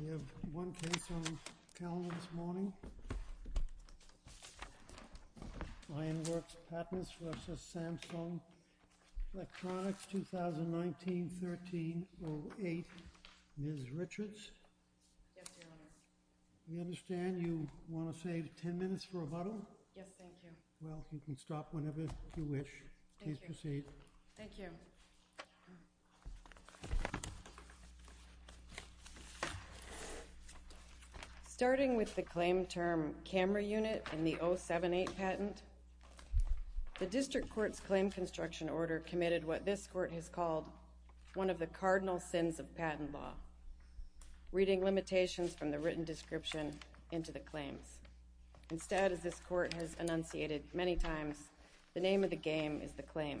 We have one case on the calendar this morning. Lionworks Patents v. Samsung Electronics, 2019-13-08, Ms. Richards. Yes, Your Honor. We understand you want to save ten minutes for rebuttal. Yes, thank you. Well, you can stop whenever you wish. Thank you. Please proceed. Thank you. Ms. Richards? Starting with the claim term, camera unit in the 078 Patent, the district court's claim construction order committed what this court has called one of the cardinal sins of patent law, reading limitations from the written description into the claims. Instead, as this court has enunciated many times, the name of the game is the claim.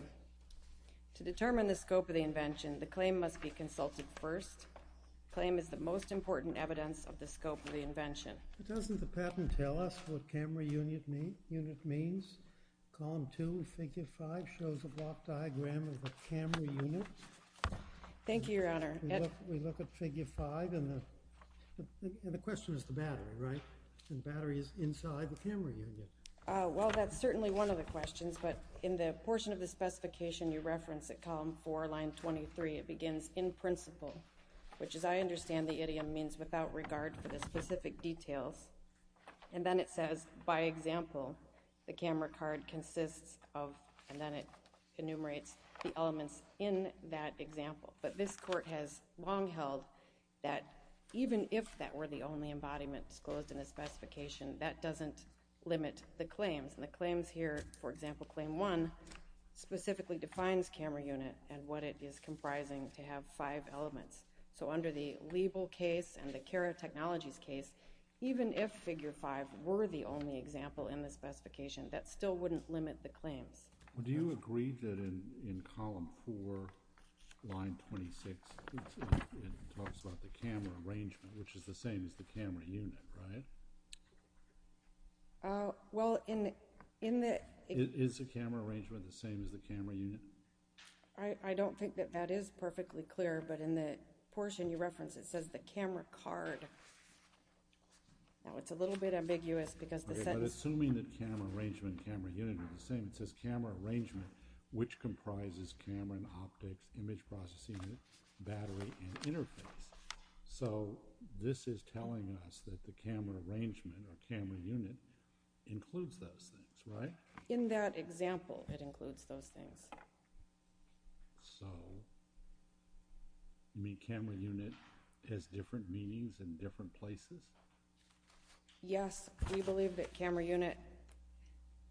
To determine the scope of the invention, the claim must be consulted first. The claim is the most important evidence of the scope of the invention. Doesn't the patent tell us what camera unit means? Column 2, figure 5 shows a block diagram of the camera unit. Thank you, Your Honor. We look at figure 5 and the question is the battery, right? The battery is inside the camera unit. Well, that's certainly one of the questions, but in the portion of the specification you reference at column 4, line 23, it begins, in principle, which as I understand the idiom means without regard for the specific details, and then it says, by example, the camera card consists of, and then it enumerates the elements in that example. But this court has long held that even if that were the only embodiment disclosed in the specification, that doesn't limit the claims. And the claims here, for example, claim 1 specifically defines camera unit and what it is comprising to have five elements. So under the Liebel case and the Kara Technologies case, even if figure 5 were the only example in the specification, that still wouldn't limit the claims. Do you agree that in column 4, line 26, it talks about the camera arrangement, which is the same as the camera unit, right? Well, in the… Is the camera arrangement the same as the camera unit? I don't think that that is perfectly clear, but in the portion you reference, it says the camera card. Now, it's a little bit ambiguous because the sentence… Okay, but assuming that camera arrangement and camera unit are the same, it says camera arrangement, which comprises camera and optics, image processing unit, battery, and interface. So, this is telling us that the camera arrangement or camera unit includes those things, right? In that example, it includes those things. So, you mean camera unit has different meanings in different places? Yes, we believe that camera unit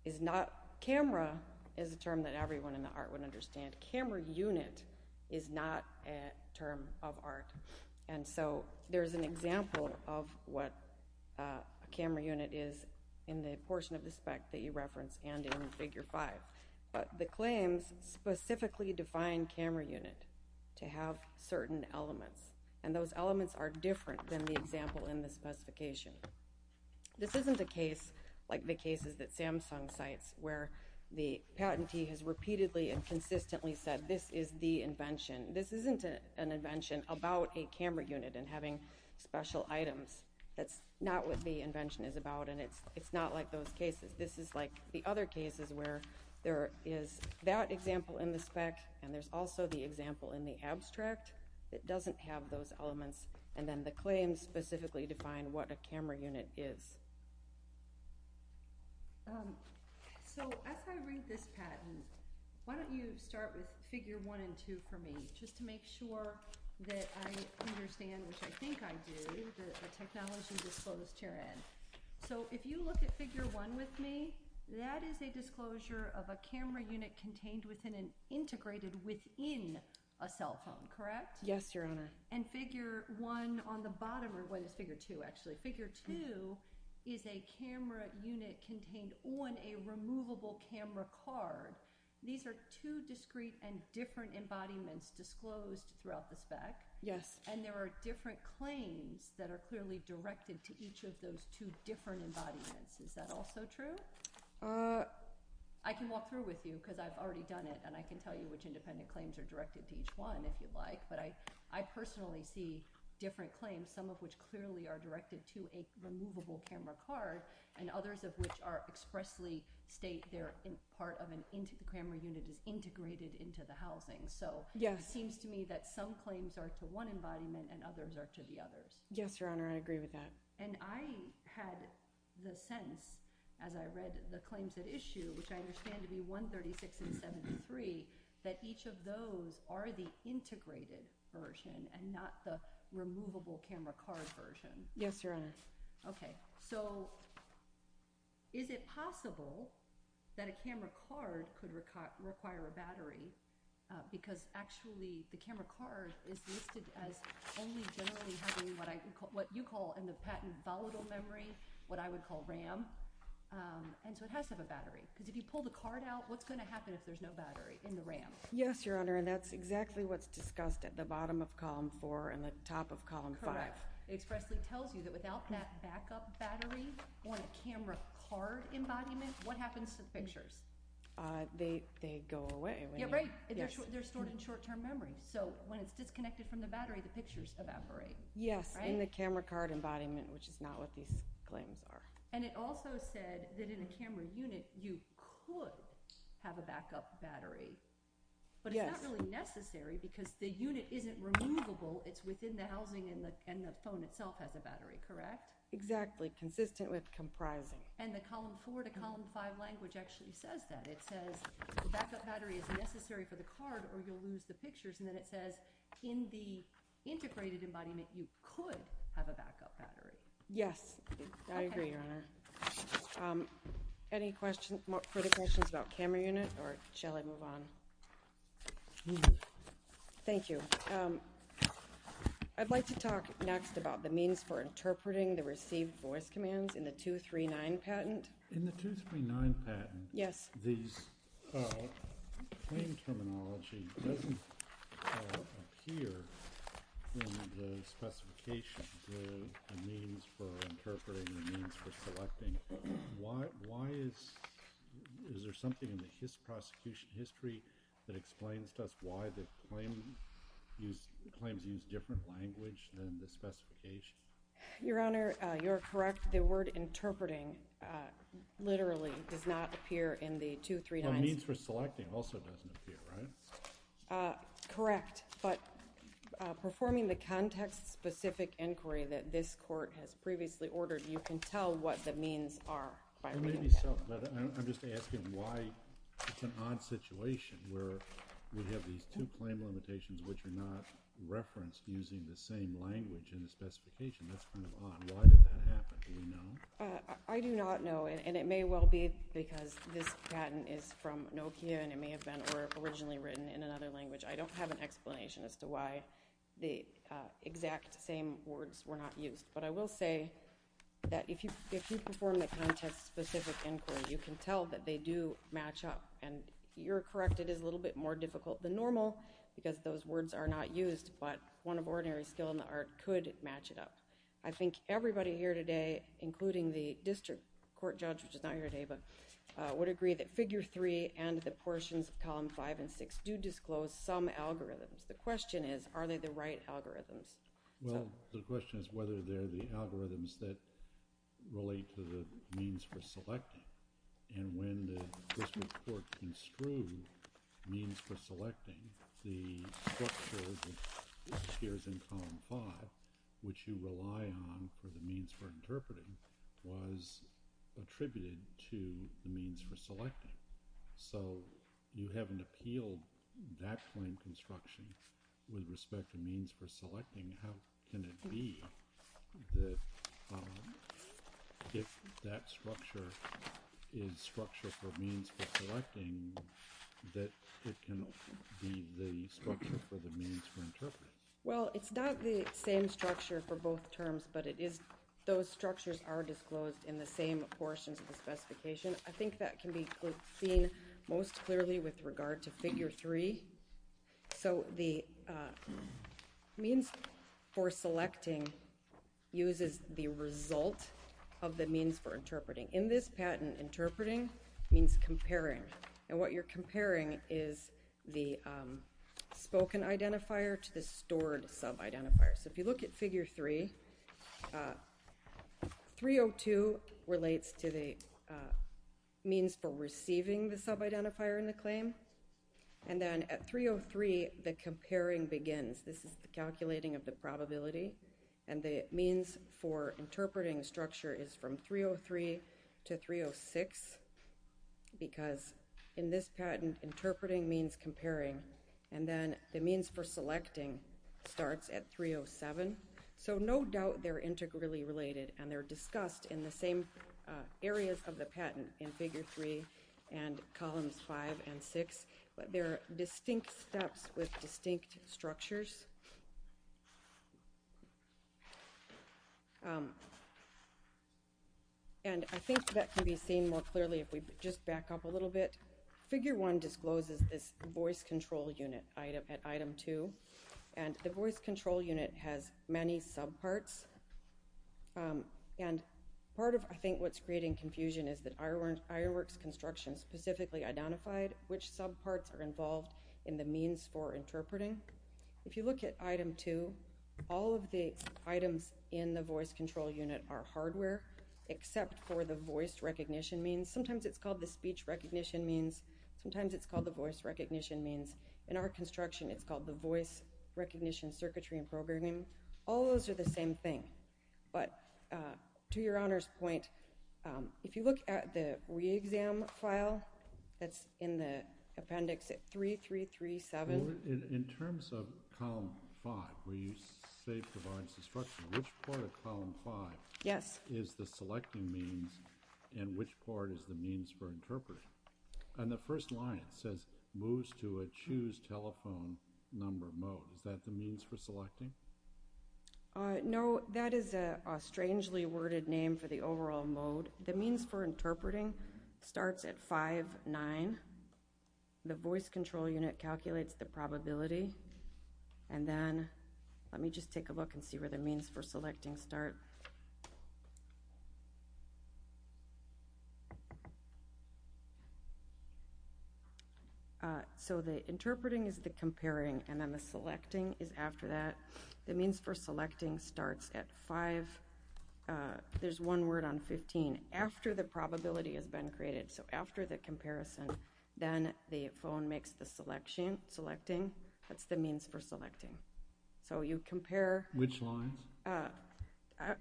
is not… Camera is a term that everyone in the art would understand. But camera unit is not a term of art. And so, there's an example of what a camera unit is in the portion of the spec that you reference and in figure 5. But the claims specifically define camera unit to have certain elements. And those elements are different than the example in the specification. This isn't a case like the cases that Samsung cites, where the patentee has repeatedly and repeatedly said, this is the invention. This isn't an invention about a camera unit and having special items. That's not what the invention is about. And it's not like those cases. This is like the other cases where there is that example in the spec, and there's also the example in the abstract that doesn't have those elements. And then the claims specifically define what a camera unit is. So, as I read this patent, why don't you start with figure 1 and 2 for me, just to make sure that I understand, which I think I do, the technology disclosed herein. So, if you look at figure 1 with me, that is a disclosure of a camera unit contained within an integrated within a cell phone, correct? Yes, Your Honor. And figure 1 on the bottom, or what is figure 2 actually? Figure 2 is a camera unit contained on a removable camera card. These are two discrete and different embodiments disclosed throughout the spec. Yes. And there are different claims that are clearly directed to each of those two different embodiments. Is that also true? I can walk through with you, because I've already done it, and I can tell you which independent claims are directed to each one, if you'd like. But I personally see different claims, some of which clearly are directed to a removable camera card, and others of which expressly state that part of a camera unit is integrated into the housing. So, it seems to me that some claims are to one embodiment, and others are to the others. Yes, Your Honor. I agree with that. And I had the sense, as I read the claims at issue, which I understand to be 136 and not the removable camera card version. Yes, Your Honor. Okay. So, is it possible that a camera card could require a battery? Because actually, the camera card is listed as only generally having what you call in the patent volatile memory, what I would call RAM. And so, it has to have a battery. Because if you pull the card out, what's going to happen if there's no battery in the RAM? Yes, Your Honor. And that's exactly what's discussed at the bottom of Column 4 and the top of Column 5. Correct. It expressly tells you that without that backup battery on a camera card embodiment, what happens to the pictures? They go away. Yeah, right. They're stored in short-term memory. So, when it's disconnected from the battery, the pictures evaporate. Yes, in the camera card embodiment, which is not what these claims are. And it also said that in a camera unit, you could have a backup battery. Yes. But it's not really necessary because the unit isn't removable. It's within the housing and the phone itself has a battery. Correct? Exactly. Consistent with comprising. And the Column 4 to Column 5 language actually says that. It says the backup battery is necessary for the card or you'll lose the pictures. And then it says in the integrated embodiment, you could have a backup battery. Yes. I agree, Your Honor. Okay. Any further questions about camera unit or shall I move on? Thank you. I'd like to talk next about the means for interpreting the received voice commands in the 239 patent. In the 239 patent, the claim terminology doesn't appear in the specifications. The means for interpreting, the means for selecting. Why is there something in the Hiss prosecution history that explains to us why the claims use different language than the specification? Your Honor, you're correct. The word interpreting literally does not appear in the 239s. The means for selecting also doesn't appear, right? Correct. But performing the context specific inquiry that this court has previously ordered, you can tell what the means are. It may be so, but I'm just asking why it's an odd situation where we have these two claim limitations which are not referenced using the same language in the specification. That's kind of odd. Why did that happen? Do you know? I do not know. And it may well be because this patent is from Nokia and it may have been originally written in another language. I don't have an explanation as to why the exact same words were not used. But I will say that if you perform the context specific inquiry, you can tell that they do match up. And you're correct, it is a little bit more difficult than normal because those words are not used, but one of ordinary skill in the art could match it up. I think everybody here today, including the district court judge, which is not here today, would agree that figure 3 and the portions of column 5 and 6 do disclose some algorithms. The question is, are they the right algorithms? Well, the question is whether they're the algorithms that relate to the means for selecting. And when the district court construed means for selecting, the structure that appears in column 5, which you rely on for the means for interpreting, was attributed to the means for selecting. So you haven't appealed that point of construction with respect to means for selecting. How can it be that if that structure is structure for means for selecting, that it can be the structure for the means for interpreting? Well, it's not the same structure for both terms, but those structures are disclosed in the same portions of the specification. I think that can be seen most clearly with regard to figure 3. So the means for selecting uses the result of the means for interpreting. In this patent, interpreting means comparing. And what you're comparing is the spoken identifier to the stored sub-identifier. So if you look at figure 3, 302 relates to the means for receiving the sub-identifier in the claim. And then at 303, the comparing begins. This is the calculating of the probability. And the means for interpreting structure is from 303 to 306, because in this patent, interpreting means comparing. And then the means for selecting starts at 307. So no doubt they're integrally related, and they're discussed in the same areas of the patent in figure 3 and columns 5 and 6. But there are distinct steps with distinct structures. And I think that can be seen more clearly if we just back up a little bit. Figure 1 discloses this voice control unit at item 2, and the voice control unit has many sub-parts. And part of, I think, what's creating confusion is that Irowerks Construction specifically identified which sub-parts are involved in the means for interpreting. If you look at item 2, all of the items in the voice control unit are hardware, except for the voice recognition means. Sometimes it's called the speech recognition means. Sometimes it's called the voice recognition means. In our construction, it's called the voice recognition circuitry and programming. All those are the same thing. But to Your Honor's point, if you look at the re-exam file that's in the appendix at 3337. In terms of column 5, where you say it provides instruction, which part of column 5 is the selecting means, and which part is the means for interpreting? And the first line, it says, moves to a choose telephone number mode. Is that the means for selecting? No, that is a strangely worded name for the overall mode. The means for interpreting starts at 5, 9. The voice control unit calculates the probability. And then, let me just take a look and see where the means for selecting start. So, the interpreting is the comparing, and then the selecting is after that. The means for selecting starts at 5. There's one word on 15, after the probability has been created. So, after the comparison, then the phone makes the selecting. That's the means for selecting. So, you compare. Which lines?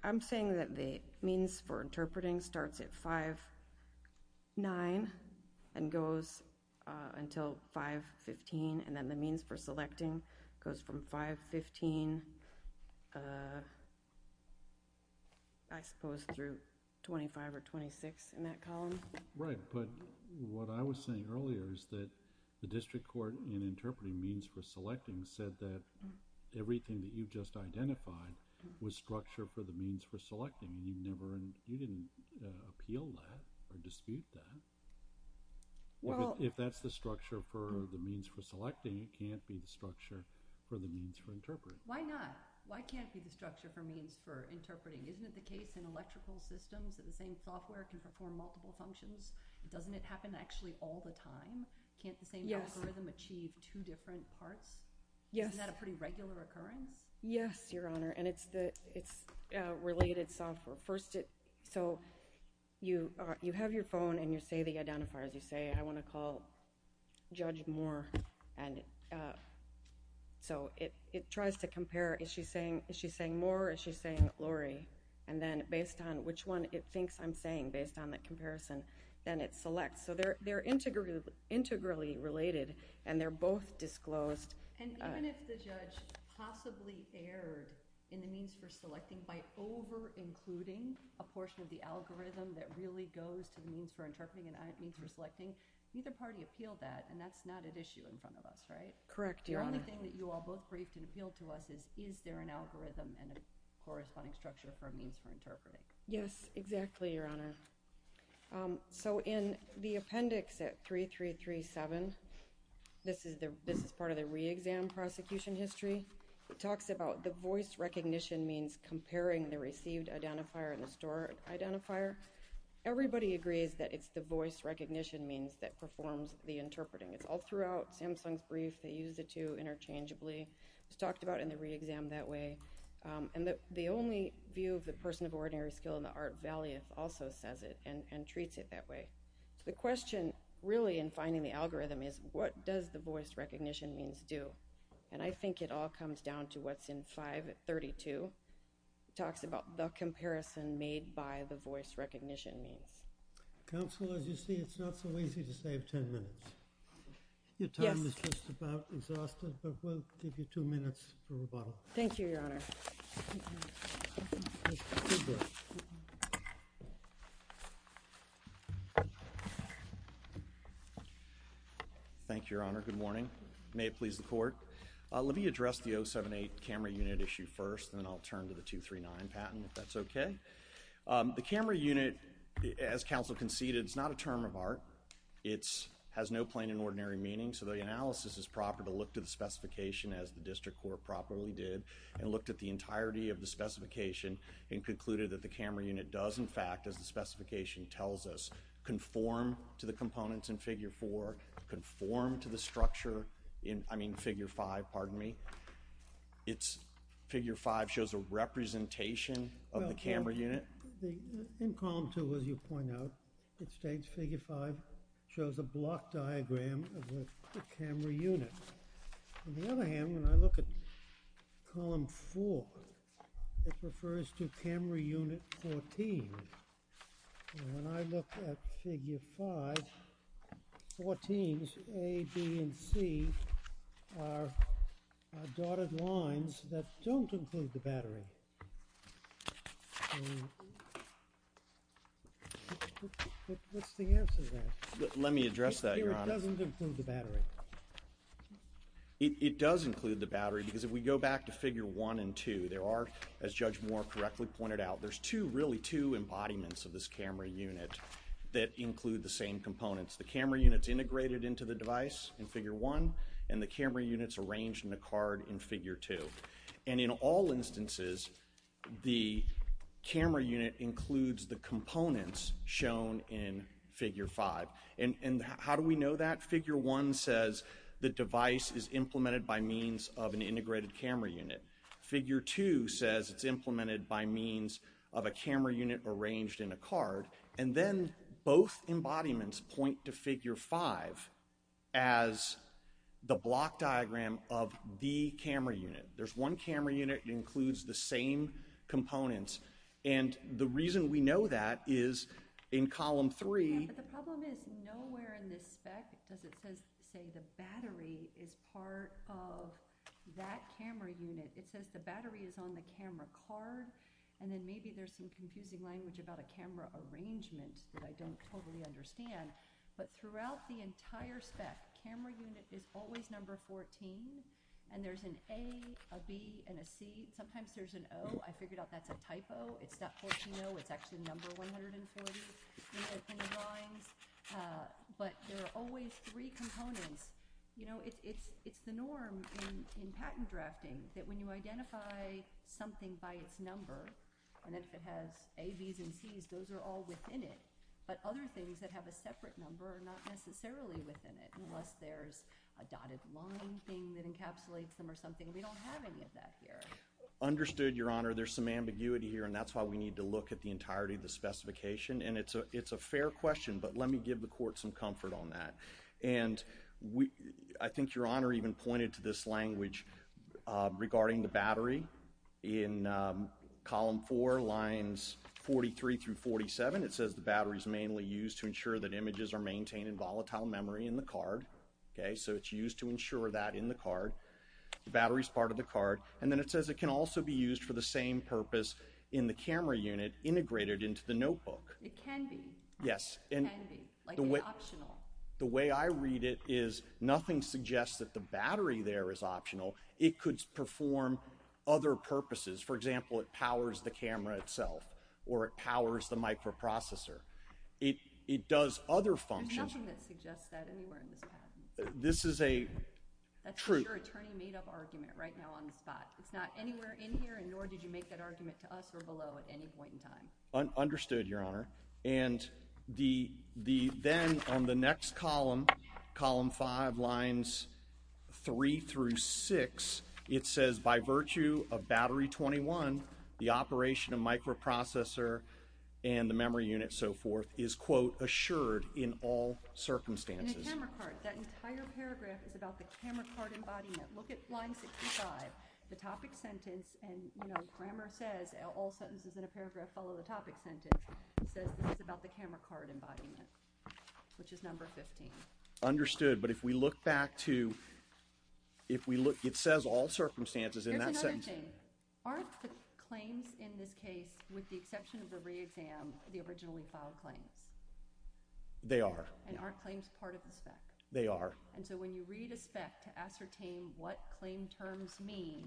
I'm saying that the means for interpreting starts at 5, 9, and goes until 5, 15, and then the means for selecting goes from 5, 15, I suppose, through 25 or 26 in that column. Right, but what I was saying earlier is that the district court in interpreting means for was structured for the means for selecting. You didn't appeal that or dispute that. If that's the structure for the means for selecting, it can't be the structure for the means for interpreting. Why not? Why can't it be the structure for means for interpreting? Isn't it the case in electrical systems that the same software can perform multiple functions? Doesn't it happen actually all the time? Can't the same algorithm achieve two different parts? Yes. Isn't that a pretty regular occurrence? Yes, Your Honor, and it's related software. First, so you have your phone and you say the identifiers. You say, I want to call Judge Moore, and so it tries to compare. Is she saying Moore or is she saying Lori? And then, based on which one it thinks I'm saying, based on that comparison, then it selects. So, they're integrally related, and they're both disclosed. And even if the judge possibly erred in the means for selecting by over-including a portion of the algorithm that really goes to the means for interpreting and means for selecting, neither party appealed that, and that's not at issue in front of us, right? Correct, Your Honor. The only thing that you all both briefed and appealed to us is, is there an algorithm and a corresponding structure for a means for interpreting? Yes, exactly, Your Honor. So, in the appendix at 3337, this is part of the re-exam prosecution history, it talks about the voice recognition means comparing the received identifier and the stored identifier. Everybody agrees that it's the voice recognition means that performs the interpreting. It's all throughout Samsung's brief. They use the two interchangeably. It's talked about in the re-exam that way. And the only view of the person of ordinary skill in the art valiant also says it and treats it that way. The question, really, in finding the algorithm is, what does the voice recognition means do? And I think it all comes down to what's in 532. It talks about the comparison made by the voice recognition means. Counsel, as you see, it's not so easy to save 10 minutes. Your time is just about exhausted, but we'll give you two minutes for rebuttal. Thank you, Your Honor. Thank you, Your Honor. Good morning. May it please the Court. Let me address the 078 camera unit issue first, and then I'll turn to the 239 patent, if that's okay. The camera unit, as counsel conceded, is not a term of art. It has no plain and ordinary meaning, so the analysis is proper to look to the specification as the District Court properly did and looked at the entirety of the specification and concluded that the camera unit does, in fact, as the specification tells us, conform to the components in Figure 4, conform to the structure in, I mean, Figure 5, pardon me. Figure 5 shows a representation of the camera unit. In Column 2, as you point out, it states Figure 5 shows a block diagram of the camera unit. On the other hand, when I look at Column 4, it refers to camera unit 14. And when I look at Figure 5, 14's A, B, and C are dotted lines that don't include the battery. What's the answer to that? It doesn't include the battery. It does include the battery, because if we go back to Figure 1 and 2, there are, as Judge Moore correctly pointed out, there's two, really two embodiments of this camera unit that include the same components. The camera unit's integrated into the device in Figure 1, and the camera unit's arranged in a card in Figure 2. And in all instances, the camera unit includes the components shown in Figure 5. And how do we know that? Figure 1 says the device is implemented by means of an integrated camera unit. Figure 2 says it's implemented by means of a camera unit arranged in a card. And then both embodiments point to Figure 5 as the block diagram of the camera unit. There's one camera unit that includes the same components. And the reason we know that is in Column 3. But the problem is, nowhere in this spec does it say the battery is part of that camera unit. It says the battery is on the camera card, and then maybe there's some confusing language about a camera arrangement that I don't totally understand. But throughout the entire spec, camera unit is always number 14. And there's an A, a B, and a C. Sometimes there's an O. I figured out that's a typo. It's not 14-0. It's actually number 140. It's in the drawings. But there are always three components. You know, it's the norm in patent drafting that when you identify something by its number, and if it has A, Bs, and Cs, those are all within it. But other things that have a separate number are not necessarily within it, unless there's a dotted line thing that encapsulates them or something. We don't have any of that here. Understood, Your Honor. There's some ambiguity here, and that's why we need to look at the entirety of the specification. And it's a fair question, but let me give the Court some comfort on that. And I think Your Honor even pointed to this language regarding the battery in Column 4, Lines 43 through 47. It says the battery is mainly used to ensure that images are maintained in volatile memory in the card. Okay, so it's used to ensure that in the card. The battery is part of the card. And then it says it can also be used for the same purpose in the camera unit integrated into the notebook. It can be. Yes. It can be. Like it's optional. The way I read it is nothing suggests that the battery there is optional. It could perform other purposes. For example, it powers the camera itself, or it powers the microprocessor. It does other functions. There's nothing that suggests that anywhere in this patent. This is a truth. Your attorney made up argument right now on the spot. It's not anywhere in here, and nor did you make that argument to us or below at any point in time. Understood, Your Honor. And then on the next column, Column 5, Lines 3 through 6, it says by virtue of Battery 21, the operation of microprocessor and the memory unit, so forth, is, quote, assured in all circumstances. In a camera card. That entire paragraph is about the camera card embodiment. Look at Line 65, the topic sentence, and, you know, grammar says all sentences in a paragraph follow the topic sentence. It says this is about the camera card embodiment, which is Number 15. Understood. But if we look back to, if we look, it says all circumstances in that sentence. Here's another thing. Aren't the claims in this case, with the exception of the reexam, the originally filed claims? They are. And aren't claims part of the spec? They are. And so when you read a spec to ascertain what claim terms mean,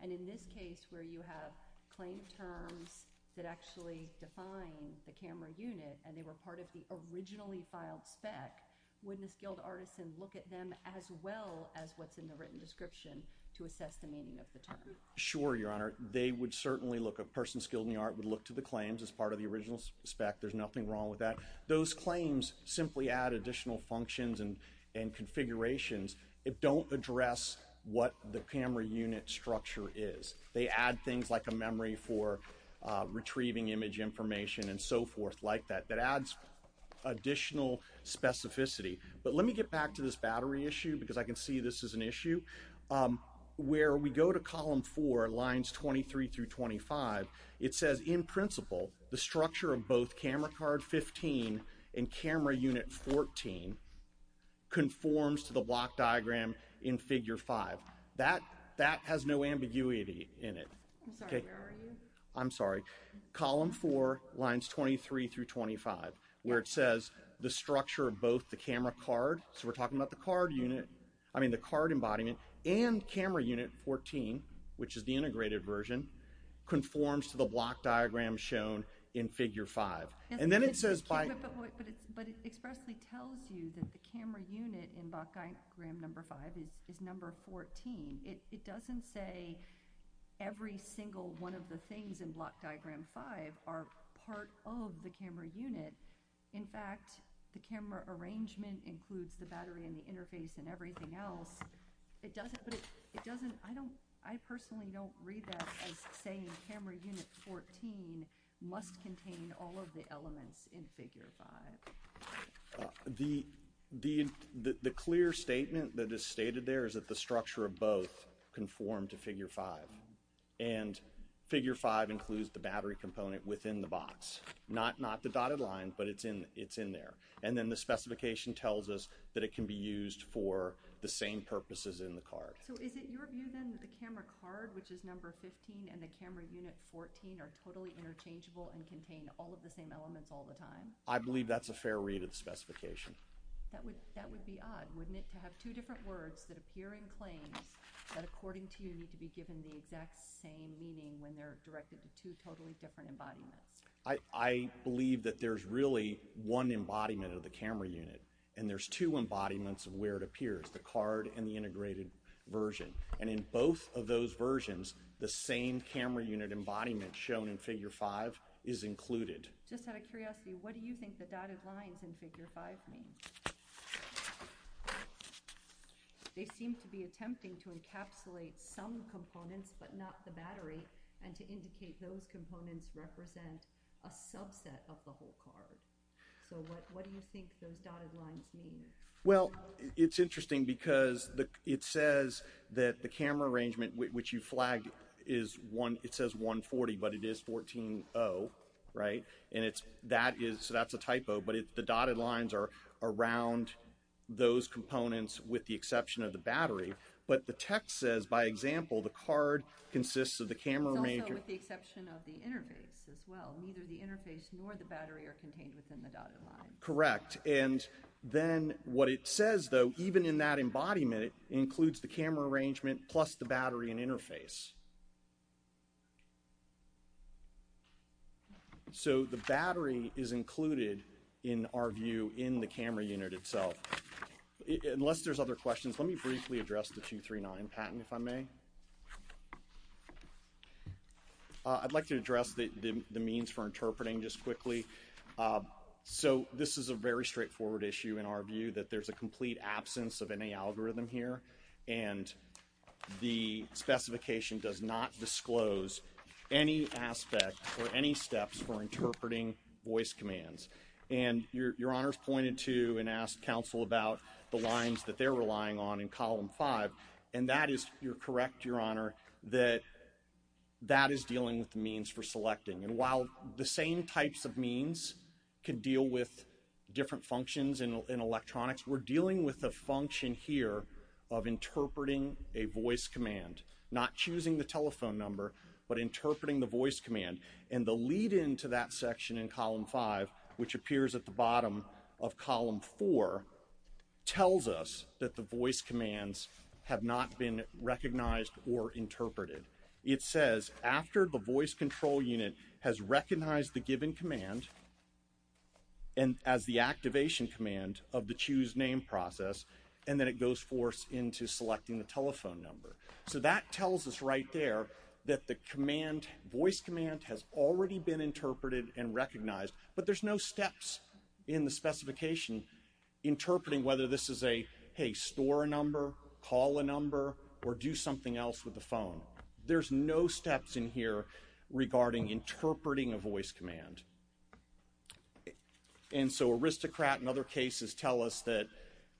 and in this case where you have claim terms that actually define the camera unit, and they were part of the originally filed spec, wouldn't a skilled artisan look at them as well as what's in the written description to assess the meaning of the term? Sure, Your Honor. They would certainly look, a person skilled in the art would look to the claims as part of the original spec. There's nothing wrong with that. Those claims simply add additional functions and configurations. It don't address what the camera unit structure is. They add things like a memory for retrieving image information and so forth like that. That adds additional specificity. But let me get back to this battery issue because I can see this is an issue. Where we go to column 4, lines 23 through 25, it says, in principle, the structure of both camera card 15 and camera unit 14 conforms to the block diagram in figure 5. That has no ambiguity in it. I'm sorry, where are you? I'm sorry. Column 4, lines 23 through 25, where it says the structure of both the camera card, so we're talking about the card unit, I mean the card embodiment, and camera unit 14, which is the integrated version, conforms to the block diagram shown in figure 5. And then it says by But it expressly tells you that the camera unit in block diagram number 5 is number 14. It doesn't say every single one of the things in block diagram 5 are part of the camera unit. In fact, the camera arrangement includes the battery and the interface and everything else. It doesn't, but it doesn't, I don't, I personally don't read that as saying camera unit 14 must contain all of the elements in figure 5. The clear statement that is stated there is that the structure of both conform to figure 5. And figure 5 includes the battery component within the box. Not the dotted line, but it's in there. And then the specification tells us that it can be used for the same purposes in the card. So is it your view, then, that the camera card, which is number 15, and the camera unit 14 are totally interchangeable and contain all of the same elements all the time? I believe that's a fair read of the specification. That would be odd, wouldn't it, to have two different words that appear in claims that, according to you, need to be given the exact same meaning when they're directed to two totally different embodiments. I believe that there's really one embodiment of the camera unit, and there's two embodiments of where it appears, the card and the integrated version. And in both of those versions, the same camera unit embodiment shown in figure 5 is included. Just out of curiosity, what do you think the dotted lines in figure 5 mean? They seem to be attempting to encapsulate some components, but not the battery, and to indicate those components represent a subset of the whole card. So what do you think those dotted lines mean? Well, it's interesting because it says that the camera arrangement, which you flagged, it says 140, but it is 14-0, right? So that's a typo, but the dotted lines are around those components with the exception of the battery. But the text says, by example, the card consists of the camera major. It's also with the exception of the interface as well. Neither the interface nor the battery are contained within the dotted line. Correct. And then what it says, though, even in that embodiment, it includes the camera arrangement plus the battery and interface. So the battery is included, in our view, in the camera unit itself. Unless there's other questions, let me briefly address the 239 patent, if I may. I'd like to address the means for interpreting just quickly. So this is a very straightforward issue in our view, that there's a complete absence of any algorithm here, and the specification does not disclose any aspect or any steps for interpreting voice commands. And Your Honor's pointed to and asked counsel about the lines that they're relying on in Column 5, and that is, you're correct, Your Honor, that that is dealing with the means for selecting. And while the same types of means can deal with different functions in electronics, we're dealing with the function here of interpreting a voice command. Not choosing the telephone number, but interpreting the voice command. And the lead-in to that section in Column 5, which appears at the bottom of Column 4, tells us that the voice commands have not been recognized or interpreted. It says, after the voice control unit has recognized the given command, and as the activation command of the choose name process, and then it goes forth into selecting the telephone number. So that tells us right there that the command, voice command, has already been interpreted and recognized, but there's no steps in the specification interpreting whether this is a, hey, store a number, call a number, or do something else with the phone. There's no steps in here regarding interpreting a voice command. And so aristocrat and other cases tell us that,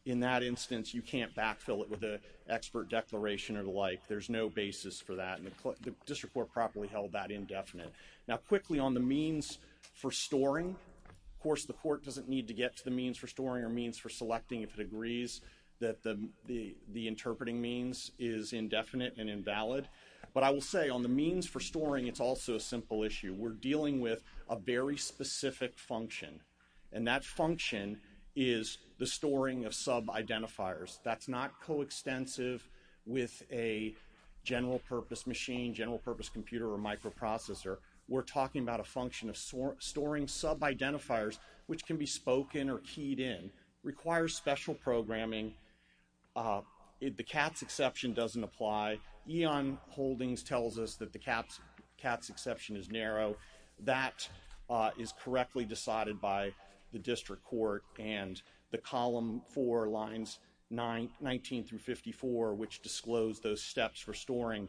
in that instance, you can't backfill it with an expert declaration or the like. There's no basis for that, and the District Court properly held that indefinite. Now, quickly, on the means for storing, of course, the court doesn't need to get to the means for storing or means for selecting if it agrees that the interpreting means is indefinite and invalid. But I will say, on the means for storing, it's also a simple issue. We're dealing with a very specific function, and that function is the storing of sub-identifiers. That's not coextensive with a general-purpose machine, general-purpose computer, or microprocessor. We're talking about a function of storing sub-identifiers, which can be spoken or keyed in. It requires special programming. The CATS exception doesn't apply. Eon Holdings tells us that the CATS exception is narrow. That is correctly decided by the District Court, and the Column 4, Lines 19 through 54, which disclose those steps for storing,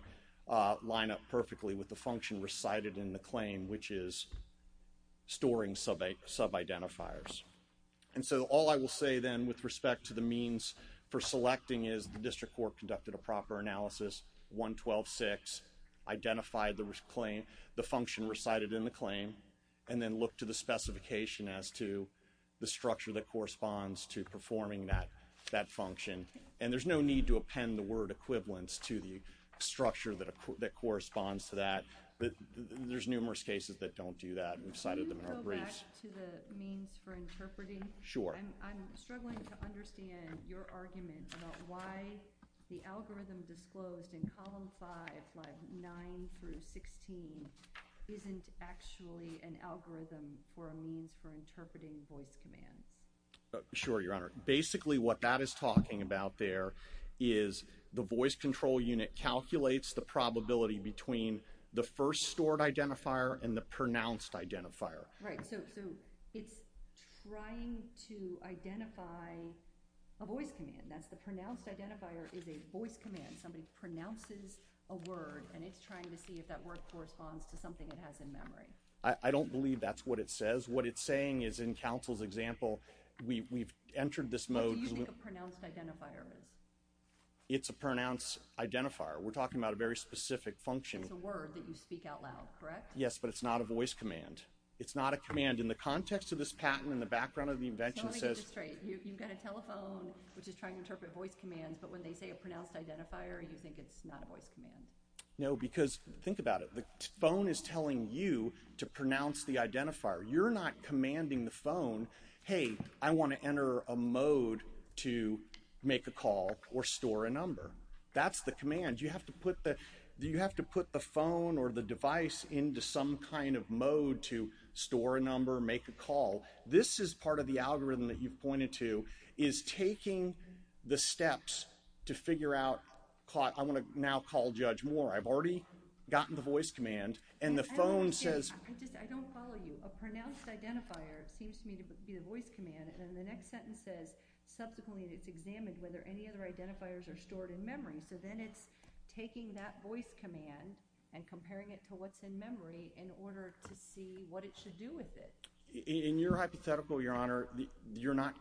line up perfectly with the function recited in the claim, which is storing sub-identifiers. And so all I will say, then, with respect to the means for selecting is the District Court conducted a proper analysis, 112.6, identified the function recited in the claim, and then looked to the specification as to the structure that corresponds to performing that function. And there's no need to append the word equivalence to the structure that corresponds to that. There's numerous cases that don't do that. We've cited them in our briefs. Can you go back to the means for interpreting? Sure. I'm struggling to understand your argument about why the algorithm disclosed in Column 5, Lines 9 through 16, isn't actually an algorithm for a means for interpreting voice commands. Sure, Your Honor. Basically what that is talking about there is the voice control unit calculates the probability between the first stored identifier and the pronounced identifier. Right. So it's trying to identify a voice command. That's the pronounced identifier is a voice command. Somebody pronounces a word, and it's trying to see if that word corresponds to something it has in memory. I don't believe that's what it says. What it's saying is in counsel's example, we've entered this mode. What do you think a pronounced identifier is? It's a pronounced identifier. We're talking about a very specific function. It's a word that you speak out loud, correct? Yes, but it's not a voice command. It's not a command in the context of this patent, in the background of the invention. I just want to get this straight. You've got a telephone which is trying to interpret voice commands, but when they say a pronounced identifier, you think it's not a voice command? No, because think about it. The phone is telling you to pronounce the identifier. You're not commanding the phone, hey, I want to enter a mode to make a call or store a number. That's the command. You have to put the phone or the device into some kind of mode to store a number, make a call. This is part of the algorithm that you pointed to, is taking the steps to figure out, I want to now call Judge Moore. I've already gotten the voice command, and the phone says… I don't follow you. A pronounced identifier seems to me to be the voice command, and then the next sentence says, subsequently it's examined whether any other identifiers are stored in memory. So then it's taking that voice command and comparing it to what's in memory in order to see what it should do with it. In your hypothetical, Your Honor, you're not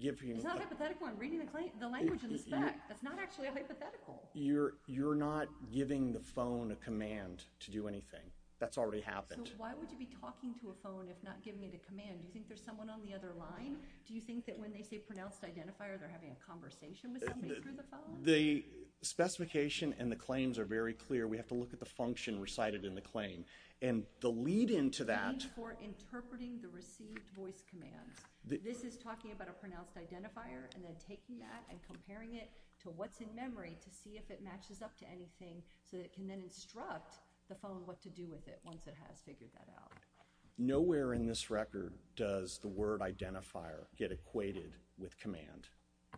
giving… It's not hypothetical. I'm reading the language in the spec. That's not actually hypothetical. You're not giving the phone a command to do anything. That's already happened. So why would you be talking to a phone if not giving it a command? Do you think there's someone on the other line? Do you think that when they say pronounced identifier, they're having a conversation with somebody through the phone? The specification and the claims are very clear. We have to look at the function recited in the claim. And the lead-in to that… The lead-in for interpreting the received voice command. This is talking about a pronounced identifier and then taking that and comparing it to what's in memory to see if it matches up to anything so that it can then instruct the phone what to do with it once it has figured that out. Nowhere in this record does the word identifier get equated with command.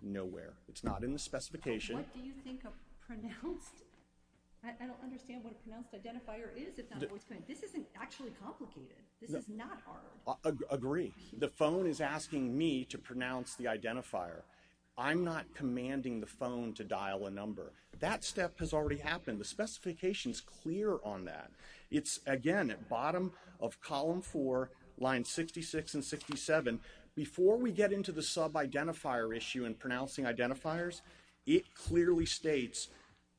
Nowhere. It's not in the specification. What do you think a pronounced… I don't understand what a pronounced identifier is if not a voice command. This isn't actually complicated. This is not hard. Agree. The phone is asking me to pronounce the identifier. I'm not commanding the phone to dial a number. That step has already happened. The specification is clear on that. It's, again, at bottom of column 4, lines 66 and 67. Before we get into the sub-identifier issue and pronouncing identifiers, it clearly states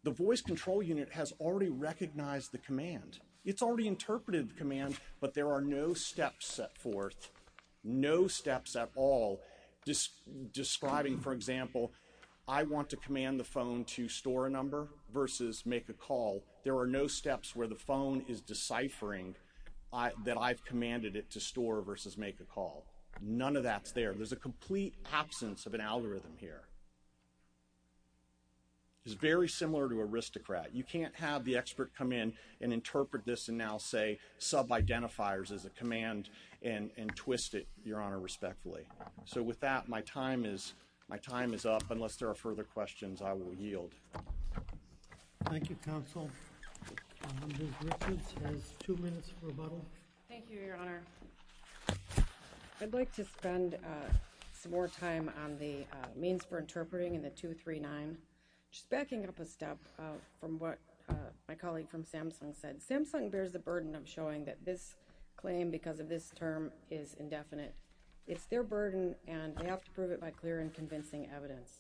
the voice control unit has already recognized the command. It's already interpreted the command, but there are no steps set forth, no steps at all describing, for example, I want to command the phone to store a number versus make a call. There are no steps where the phone is deciphering that I've commanded it to store versus make a call. None of that's there. There's a complete absence of an algorithm here. It's very similar to aristocrat. You can't have the expert come in and interpret this and now say sub-identifiers is a command and twist it, Your Honor, respectfully. So with that, my time is up. Unless there are further questions, I will yield. Thank you, Counsel. Ms. Richards has two minutes for rebuttal. Thank you, Your Honor. I'd like to spend some more time on the means for interpreting in the 239, just backing up a step from what my colleague from Samsung said. Samsung bears the burden of showing that this claim because of this term is indefinite. It's their burden, and they have to prove it by clear and convincing evidence.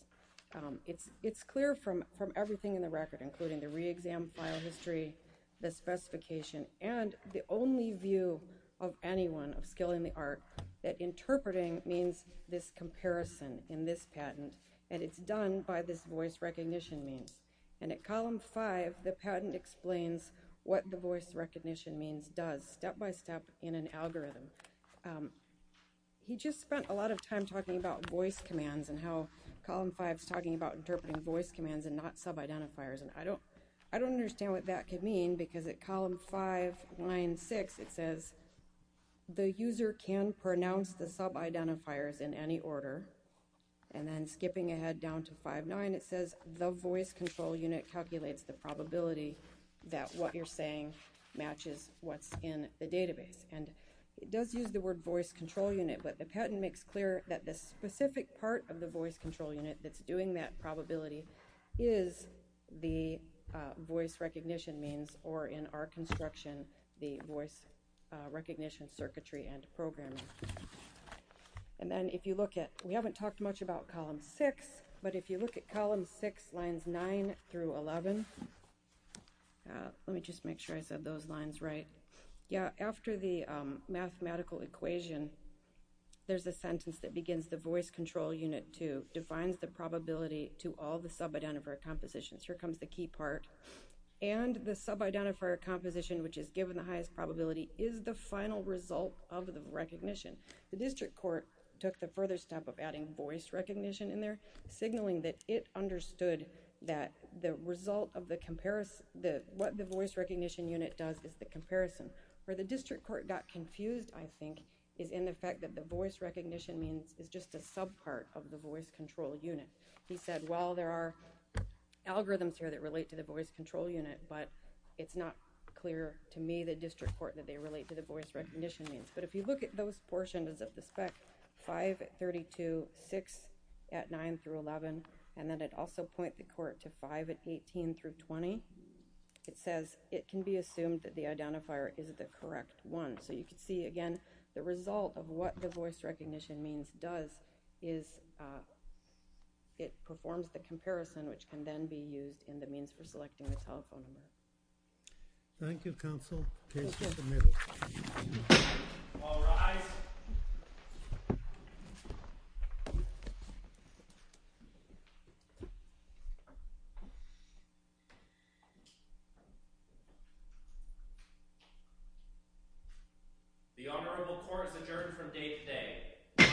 It's clear from everything in the record, including the re-exam file history, the specification, and the only view of anyone of skill in the art, that interpreting means this comparison in this patent, and it's done by this voice recognition means. And at Column 5, the patent explains what the voice recognition means does, step by step, in an algorithm. He just spent a lot of time talking about voice commands and how Column 5 is talking about interpreting voice commands and not sub-identifiers, and I don't understand what that could mean because at Column 5, line 6, it says, the user can pronounce the sub-identifiers in any order. And then skipping ahead down to 5.9, it says, the voice control unit calculates the probability that what you're saying matches what's in the database. And it does use the word voice control unit, but the patent makes clear that the specific part of the voice control unit that's doing that probability is the voice recognition means, or in our construction, the voice recognition circuitry and programming. And then if you look at, we haven't talked much about Column 6, but if you look at Column 6, lines 9 through 11, let me just make sure I said those lines right. Yeah, after the mathematical equation, there's a sentence that begins, the voice control unit, too, defines the probability to all the sub-identifier compositions. Here comes the key part. And the sub-identifier composition, which is given the highest probability, is the final result of the recognition. The district court took the further step of adding voice recognition in there, signaling that it understood that the result of the comparison, what the voice recognition unit does is the comparison. Where the district court got confused, I think, is in the fact that the voice recognition means is just a sub-part of the voice control unit. He said, well, there are algorithms here that relate to the voice control unit, but it's not clear to me, the district court, that they relate to the voice recognition means. But if you look at those portions of the spec, 5 at 32, 6 at 9 through 11, and then it also points the court to 5 at 18 through 20, it says it can be assumed that the identifier is the correct one. So you can see, again, the result of what the voice recognition means does is it performs the comparison, which can then be used in the means for selecting the telephone number. Thank you, counsel. The case is submitted. All rise. The Honorable Court is adjourned from day today.